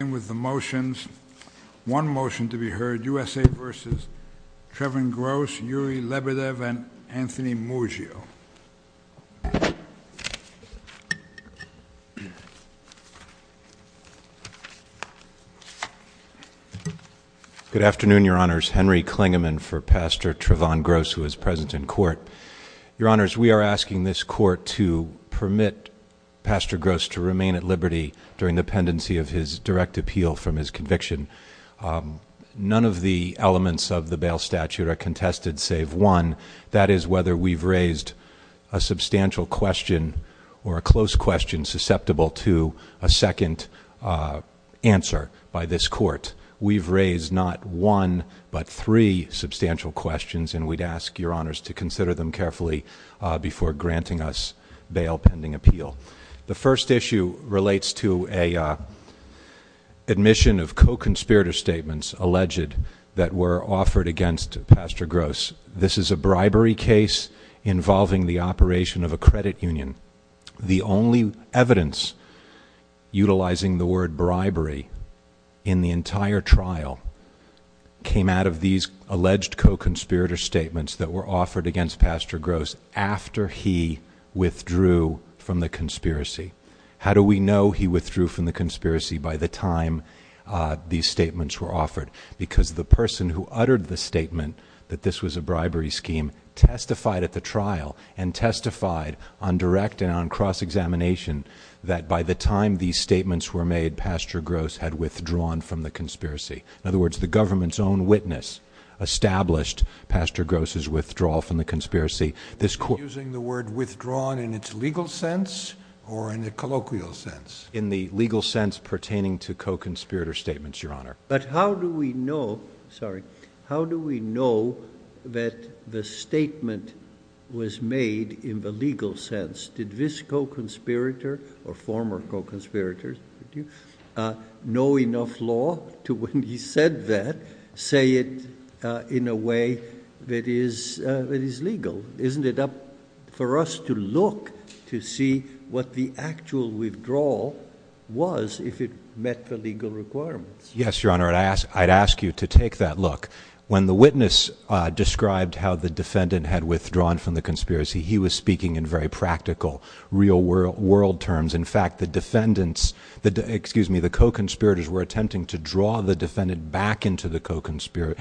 And with the motions, one motion to be heard, USA v. Trevon Gross, Yuri Lebedev, and Anthony Muggio. Good afternoon, Your Honors. Henry Klingerman for Pastor Trevon Gross, who is present in court. Your Honors, we are asking this court to permit Pastor Gross to remain at liberty during the pendency of his direct appeal from his conviction. None of the elements of the bail statute are contested save one. That is whether we've raised a substantial question or a close question susceptible to a second answer by this court. We've raised not one, but three substantial questions, and we'd ask Your Honors to consider them carefully before granting us bail pending appeal. The first issue relates to a admission of co-conspirator statements alleged that were offered against Pastor Gross. This is a bribery case involving the operation of a credit union. The only evidence utilizing the word bribery in the entire trial came out of these alleged co-conspirator statements that were offered against Pastor Gross after he withdrew from the conspiracy. How do we know he withdrew from the conspiracy by the time these statements were offered? Because the person who uttered the statement that this was a bribery scheme testified at the trial and on cross-examination that by the time these statements were made, Pastor Gross had withdrawn from the conspiracy. In other words, the government's own witness established Pastor Gross's withdrawal from the conspiracy. This court- Using the word withdrawn in its legal sense or in a colloquial sense? In the legal sense pertaining to co-conspirator statements, Your Honor. But how do we know, sorry, how do we know that the statement was made in the legal sense? Did this co-conspirator or former co-conspirator know enough law to when he said that, say it in a way that is legal? Isn't it up for us to look to see what the actual withdrawal was if it met the legal requirements? Yes, Your Honor, I'd ask you to take that look. When the witness described how the defendant had withdrawn from the conspiracy, he was speaking in very practical, real world terms. In fact, the defendants, excuse me, the co-conspirators were attempting to draw the defendant back into the co-conspiracy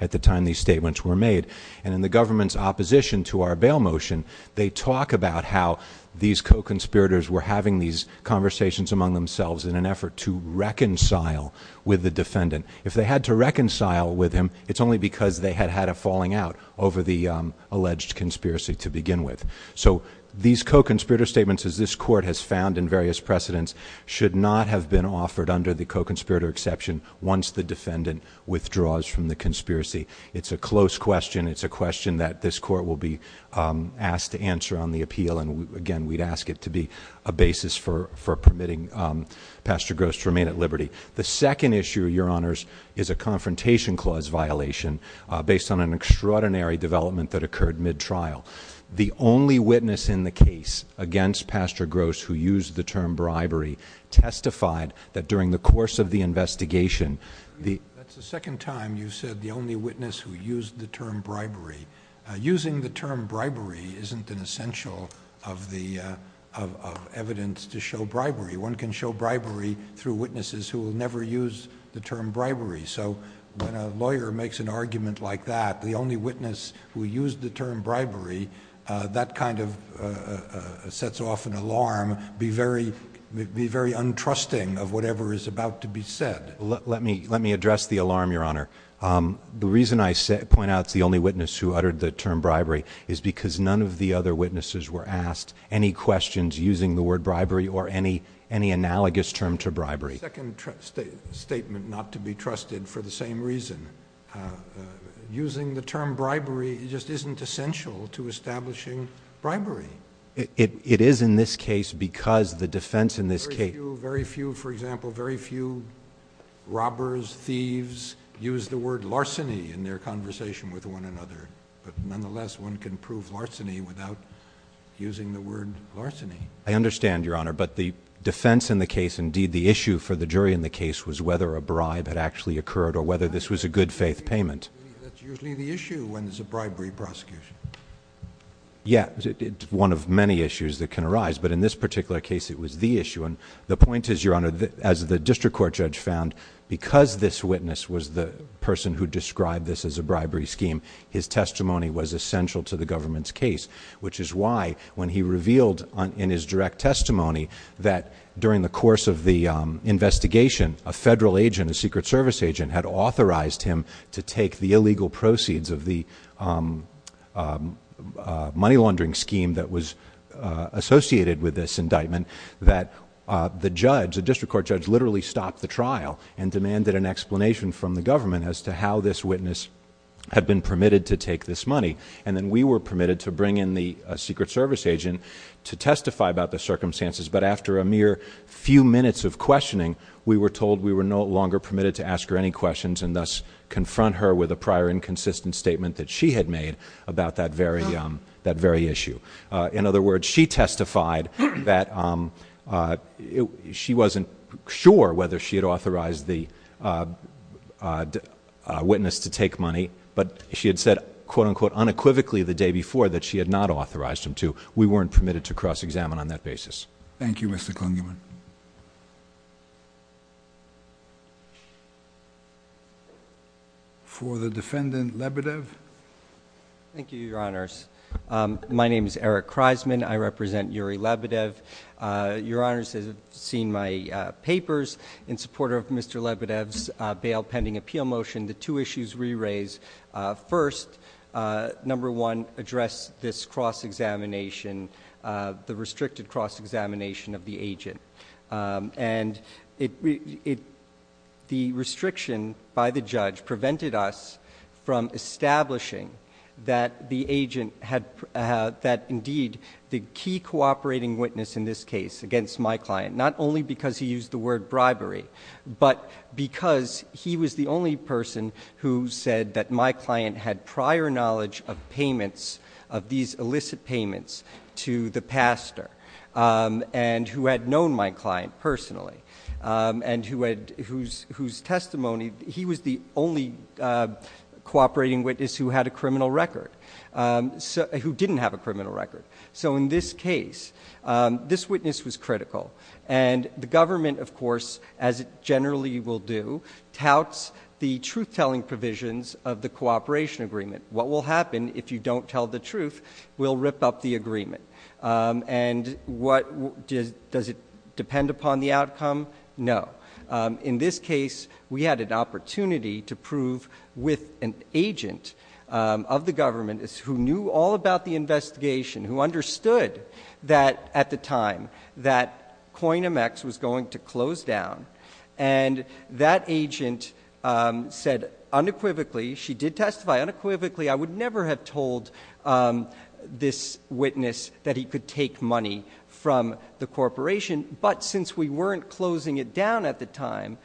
at the time these statements were made. And in the government's opposition to our bail motion, they talk about how these co-conspirators were having these conversations among themselves in an effort to reconcile with the defendant. If they had to reconcile with him, it's only because they had had a falling out over the alleged conspiracy to begin with. So these co-conspirator statements, as this court has found in various precedents, should not have been offered under the co-conspirator exception once the defendant withdraws from the conspiracy. It's a close question. It's a question that this court will be asked to answer on the appeal. And again, we'd ask it to be a basis for permitting Pastor Gross to remain at liberty. The second issue, your honors, is a confrontation clause violation based on an extraordinary development that occurred mid-trial. The only witness in the case against Pastor Gross who used the term bribery testified that during the course of the investigation, the- That's the second time you've said the only witness who used the term bribery. Using the term bribery isn't an essential of evidence to show bribery. One can show bribery through witnesses who will never use the term bribery. So when a lawyer makes an argument like that, the only witness who used the term bribery, that kind of sets off an alarm, be very untrusting of whatever is about to be said. Let me address the alarm, your honor. The reason I point out it's the only witness who uttered the term bribery is because none of the other witnesses were asked any questions using the word bribery or any analogous term to bribery. Second statement not to be trusted for the same reason. Using the term bribery just isn't essential to establishing bribery. It is in this case because the defense in this case- Very few, for example, very few robbers, thieves use the word larceny in their conversation with one another. But nonetheless, one can prove larceny without using the word larceny. I understand, your honor, but the defense in the case, indeed the issue for the jury in the case, was whether a bribe had actually occurred or whether this was a good faith payment. That's usually the issue when it's a bribery prosecution. Yeah, it's one of many issues that can arise, but in this particular case, it was the issue. And the point is, your honor, as the district court judge found, because this witness was the person who described this as a bribery scheme, his testimony was essential to the government's case, which is why when he revealed in his direct testimony that during the course of the investigation, a federal agent, a secret service agent, had authorized him to take the illegal proceeds of the money laundering scheme that was associated with this indictment. That the judge, the district court judge, literally stopped the trial and looked at how this witness had been permitted to take this money. And then we were permitted to bring in the secret service agent to testify about the circumstances. But after a mere few minutes of questioning, we were told we were no longer permitted to ask her any questions, and thus confront her with a prior inconsistent statement that she had made about that very issue. In other words, she testified that she wasn't sure whether she had authorized the witness to take money. But she had said, quote unquote, unequivocally the day before that she had not authorized him to. We weren't permitted to cross-examine on that basis. Thank you, Mr. Klingerman. For the defendant, Labadev. Thank you, your honors. My name is Eric Kreisman. I represent Yuri Labadev. Your honors have seen my papers in support of Mr. Labadev's bail pending appeal motion. The two issues we raise, first, number one, address this cross-examination, the restricted cross-examination of the agent. And the restriction by the judge prevented us from establishing that the agent had, that indeed, the key cooperating witness in this case against my client, not only because he used the word bribery, but because he was the only person who said that my client had prior knowledge of payments, of these illicit payments, to the pastor. And who had known my client personally, and whose testimony, he was the only cooperating witness who had a criminal record, who didn't have a criminal record. So in this case, this witness was critical. And the government, of course, as it generally will do, touts the truth-telling provisions of the cooperation agreement. What will happen if you don't tell the truth will rip up the agreement. And does it depend upon the outcome? No. In this case, we had an opportunity to prove with an agent of the government, who knew all about the investigation, who understood that at the time that CoinMX was going to close down. And that agent said unequivocally, she did testify unequivocally, I would never have told this witness that he could take money from the corporation. But since we weren't closing it down at the time,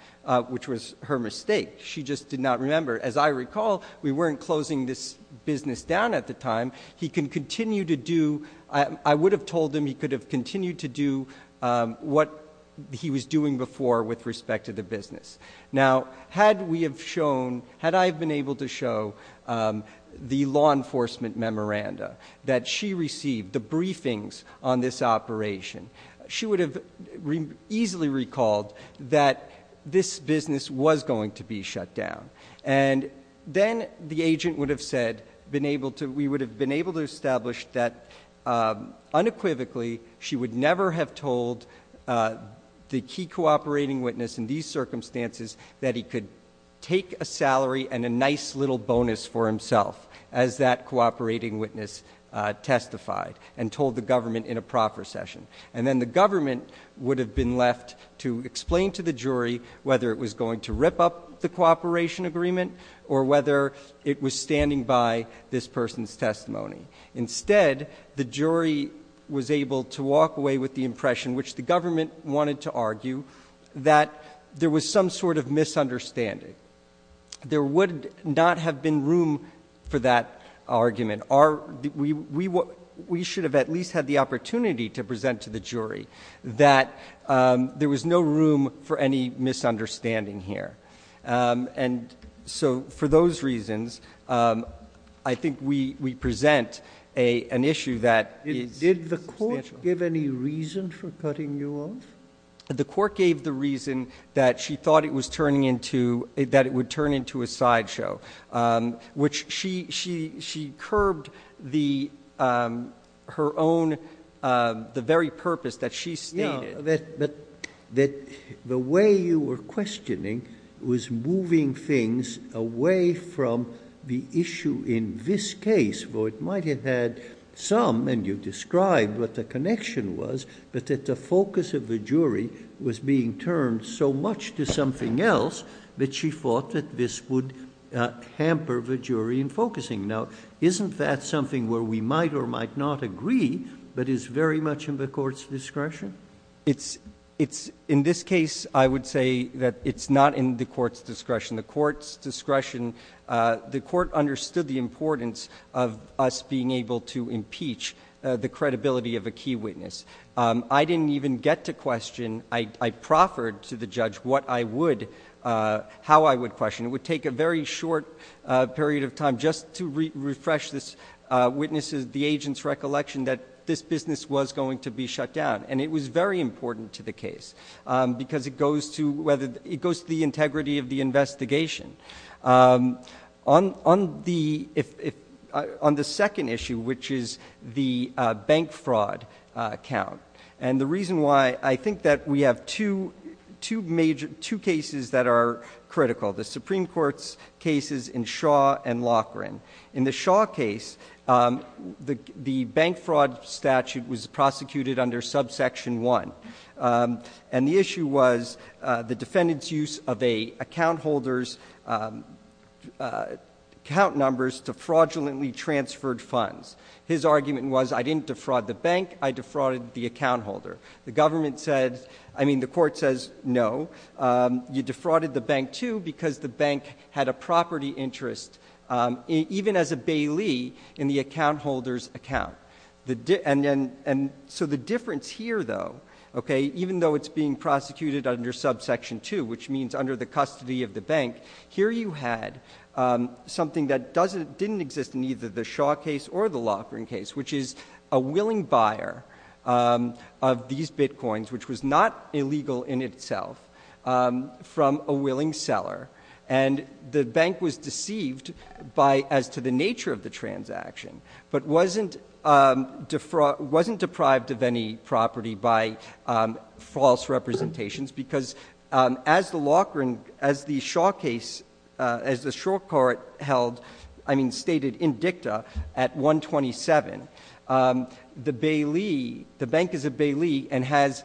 which was her mistake, she just did not remember. As I recall, we weren't closing this business down at the time. He can continue to do, I would have told him he could have continued to do what he was doing before with respect to the business. Now, had we have shown, had I have been able to show the law enforcement memoranda that she received, the briefings on this operation, she would have easily recalled that this business was going to be shut down. And then the agent would have said, we would have been able to establish that unequivocally, she would never have told the key cooperating witness in these circumstances that he could take a salary and a nice little bonus for himself. As that cooperating witness testified and told the government in a proper session. And then the government would have been left to explain to the jury whether it was going to rip up the cooperation agreement. Or whether it was standing by this person's testimony. Instead, the jury was able to walk away with the impression, which the government wanted to argue, that there was some sort of misunderstanding. There would not have been room for that argument. We should have at least had the opportunity to present to the jury that there was no room for any misunderstanding here. And so for those reasons, I think we present an issue that is substantial. Did the court give any reason for cutting you off? The court gave the reason that she thought it would turn into a side show. Which she curbed her own, the very purpose that she stated. But the way you were questioning was moving things away from the issue in this case. Though it might have had some, and you described what the connection was. But that the focus of the jury was being turned so much to something else, that she thought that this would hamper the jury in focusing. Now, isn't that something where we might or might not agree, but is very much in the court's discretion? It's, in this case, I would say that it's not in the court's discretion. The court's discretion, the court understood the importance of us being able to impeach the credibility of a key witness. I didn't even get to question, I proffered to the judge what I would, how I would question. It would take a very short period of time just to refresh this witness's, the agent's recollection that this business was going to be shut down. And it was very important to the case, because it goes to the integrity of the investigation. On the second issue, which is the bank fraud count. And the reason why, I think that we have two cases that are critical. The Supreme Court's cases in Shaw and Loughran. In the Shaw case, the bank fraud statute was prosecuted under subsection one. And the issue was the defendant's use of a account holder's count numbers to fraudulently transferred funds. His argument was, I didn't defraud the bank, I defrauded the account holder. The government said, I mean, the court says, no, you defrauded the bank too, because the bank had a property interest, even as a bailee, in the account holder's account. And so the difference here though, okay, even though it's being prosecuted under subsection two, which means under the custody of the bank, here you had something that doesn't, didn't exist in either the Shaw case or the Loughran case. Which is a willing buyer of these bitcoins, which was not illegal in itself, from a willing seller. And the bank was deceived by, as to the nature of the transaction, but wasn't deprived of any property by false representations. Because as the Loughran, as the Shaw case, as the Shaw court held, I mean stated in dicta at 127, the bank is a bailee and has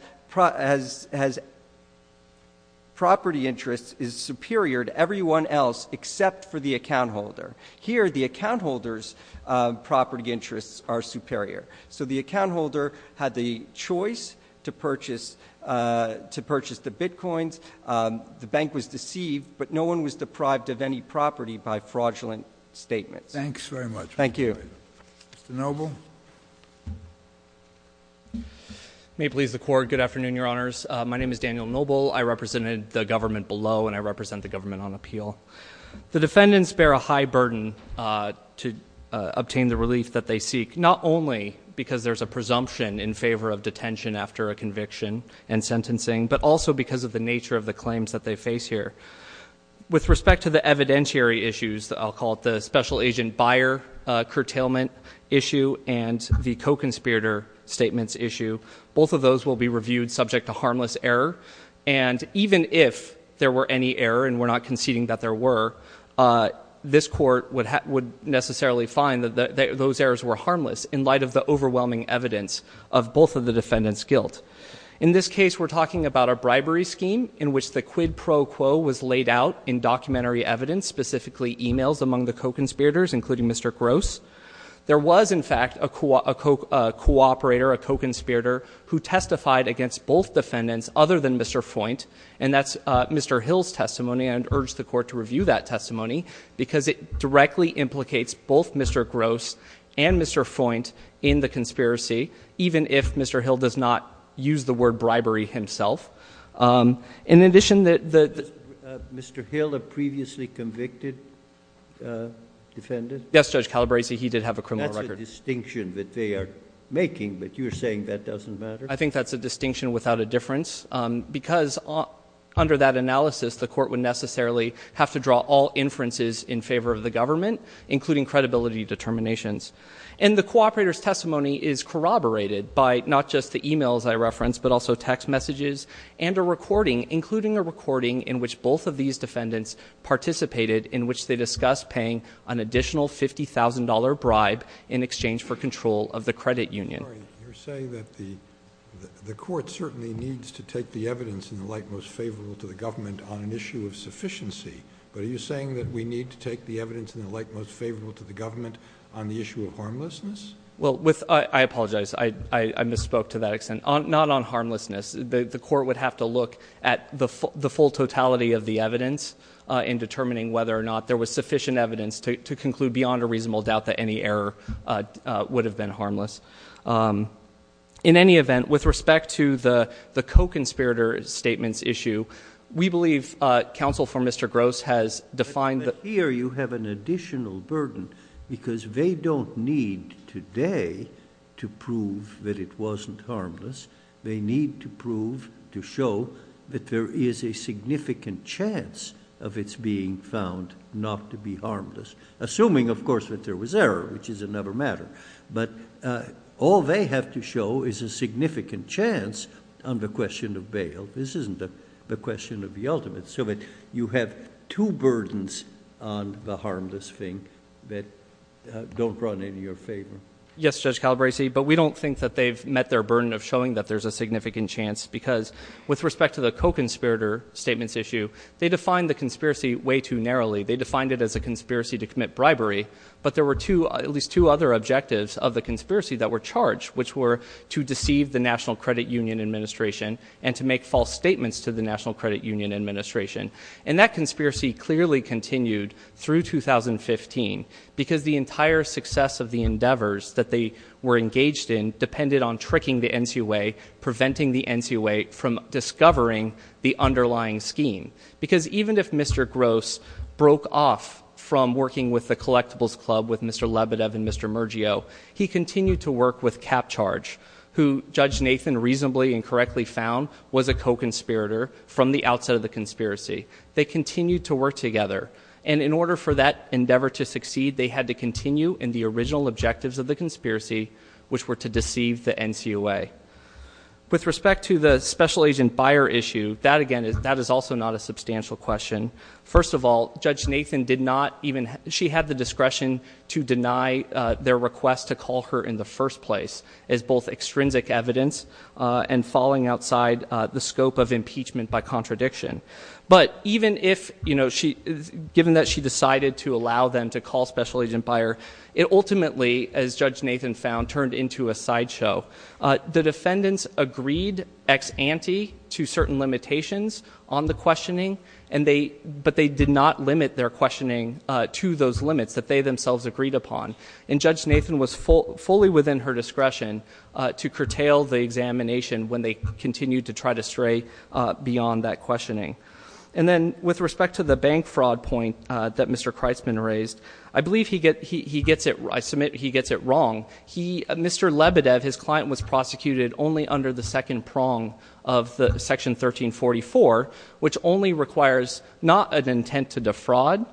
property interest is superior to everyone else except for the account holder. Here, the account holder's property interests are superior. So the account holder had the choice to purchase the bitcoins. The bank was deceived, but no one was deprived of any property by fraudulent statements. Thanks very much. Thank you. Mr. Noble. May it please the court, good afternoon, your honors. My name is Daniel Noble, I represented the government below, and I represent the government on appeal. The defendants bear a high burden to obtain the relief that they seek. Not only because there's a presumption in favor of detention after a conviction and sentencing, but also because of the nature of the claims that they face here. With respect to the evidentiary issues, I'll call it the special agent buyer curtailment issue and the co-conspirator statements issue, both of those will be reviewed subject to harmless error. And even if there were any error, and we're not conceding that there were, this court would necessarily find that those errors were harmless in light of the overwhelming evidence of both of the defendant's guilt. In this case, we're talking about a bribery scheme in which the quid pro quo was laid out in documentary evidence, specifically emails among the co-conspirators, including Mr. Gross. There was, in fact, a co-operator, a co-conspirator, who testified against both defendants other than Mr. Foynt. And that's Mr. Hill's testimony, and I'd urge the court to review that testimony, because it directly implicates both Mr. Gross and Mr. Foynt in the conspiracy, even if Mr. Hill does not use the word bribery himself. In addition, the- Mr. Hill, a previously convicted defendant? Yes, Judge Calabresi, he did have a criminal record. That's a distinction that they are making, but you're saying that doesn't matter? I think that's a distinction without a difference, because under that analysis, the court would necessarily have to draw all inferences in favor of the government, including credibility determinations. And the co-operator's testimony is corroborated by not just the emails I referenced, but also text messages, and a recording, including a recording in which both of these defendants participated, in which they discussed paying an additional $50,000 bribe in exchange for control of the credit union. Sorry, you're saying that the court certainly needs to take the evidence in the light most favorable to the government on an issue of sufficiency. But are you saying that we need to take the evidence in the light most favorable to the government on the issue of harmlessness? Well, I apologize, I misspoke to that extent. Not on harmlessness, the court would have to look at the full totality of the evidence in determining whether or not there was sufficient evidence to conclude beyond a reasonable doubt that any error would have been harmless. In any event, with respect to the co-conspirator statement's issue, we believe counsel for Mr. Gross has defined the- Here you have an additional burden, because they don't need today to prove that it wasn't harmless. They need to prove, to show, that there is a significant chance of its being found not to be harmless. Assuming, of course, that there was error, which is another matter. But all they have to show is a significant chance on the question of bail. This isn't the question of the ultimate. So that you have two burdens on the harmless thing that don't run in your favor. Yes, Judge Calabresi, but we don't think that they've met their burden of showing that there's a significant chance. Because with respect to the co-conspirator statement's issue, they defined the conspiracy way too narrowly. They defined it as a conspiracy to commit bribery. But there were at least two other objectives of the conspiracy that were charged, which were to deceive the National Credit Union Administration and to make false statements to the National Credit Union Administration. And that conspiracy clearly continued through 2015, because the entire success of the endeavors that they were engaged in depended on tricking the NCOA, preventing the NCOA from discovering the underlying scheme. Because even if Mr. Gross broke off from working with the collectibles club with Mr. McCharge, who Judge Nathan reasonably and correctly found was a co-conspirator from the outset of the conspiracy, they continued to work together. And in order for that endeavor to succeed, they had to continue in the original objectives of the conspiracy, which were to deceive the NCOA. With respect to the special agent buyer issue, that again, that is also not a substantial question. First of all, Judge Nathan did not even, she had the discretion to deny their request to call her in the first place, as both extrinsic evidence and falling outside the scope of impeachment by contradiction. But even if, given that she decided to allow them to call special agent buyer, it ultimately, as Judge Nathan found, turned into a sideshow. The defendants agreed ex ante to certain limitations on the questioning, but they did not limit their questioning to those limits that they themselves agreed upon. And Judge Nathan was fully within her discretion to curtail the examination when they continued to try to stray beyond that questioning. And then, with respect to the bank fraud point that Mr. Kreitzman raised, I believe he gets it, I submit, he gets it wrong. He, Mr. Lebedev, his client was prosecuted only under the second prong of the section 1344, which only requires not an intent to defraud,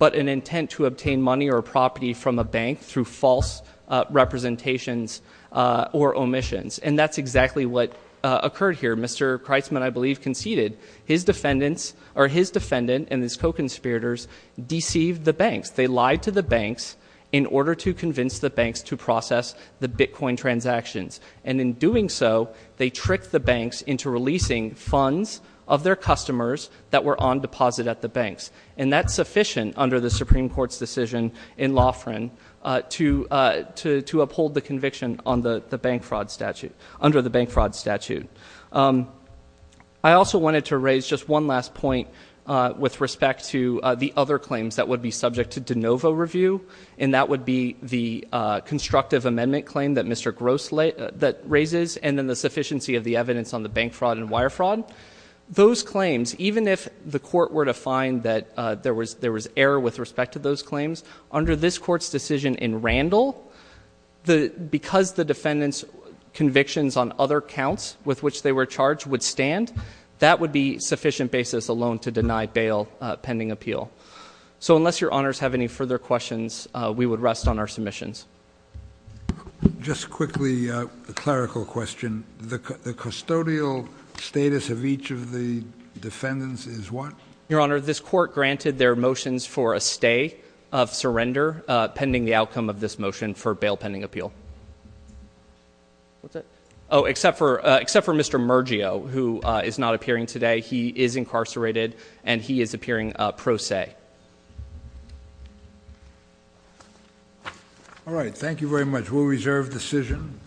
but an intent to obtain money or property from a bank through false representations or omissions. And that's exactly what occurred here. Mr. Kreitzman, I believe, conceded his defendant and his co-conspirators deceived the banks. They lied to the banks in order to convince the banks to process the Bitcoin transactions. And in doing so, they tricked the banks into releasing funds of their customers that were on deposit at the banks. And that's sufficient under the Supreme Court's decision in Laughran to uphold the conviction under the bank fraud statute. I also wanted to raise just one last point with respect to the other claims that would be subject to de novo review. And that would be the constructive amendment claim that Mr. Gross raises, and then the sufficiency of the evidence on the bank fraud and wire fraud. Those claims, even if the court were to find that there was error with respect to those claims, under this court's decision in Randall, because the defendant's convictions on other counts with which they were charged would stand, that would be sufficient basis alone to deny bail pending appeal. So unless your honors have any further questions, we would rest on our submissions. Just quickly, a clerical question. The custodial status of each of the defendants is what? Your honor, this court granted their motions for a stay of surrender pending the outcome of this motion for bail pending appeal. What's that? Except for Mr. Mergio, who is not appearing today. He is incarcerated, and he is appearing pro se. All right, thank you very much. We'll reserve decision.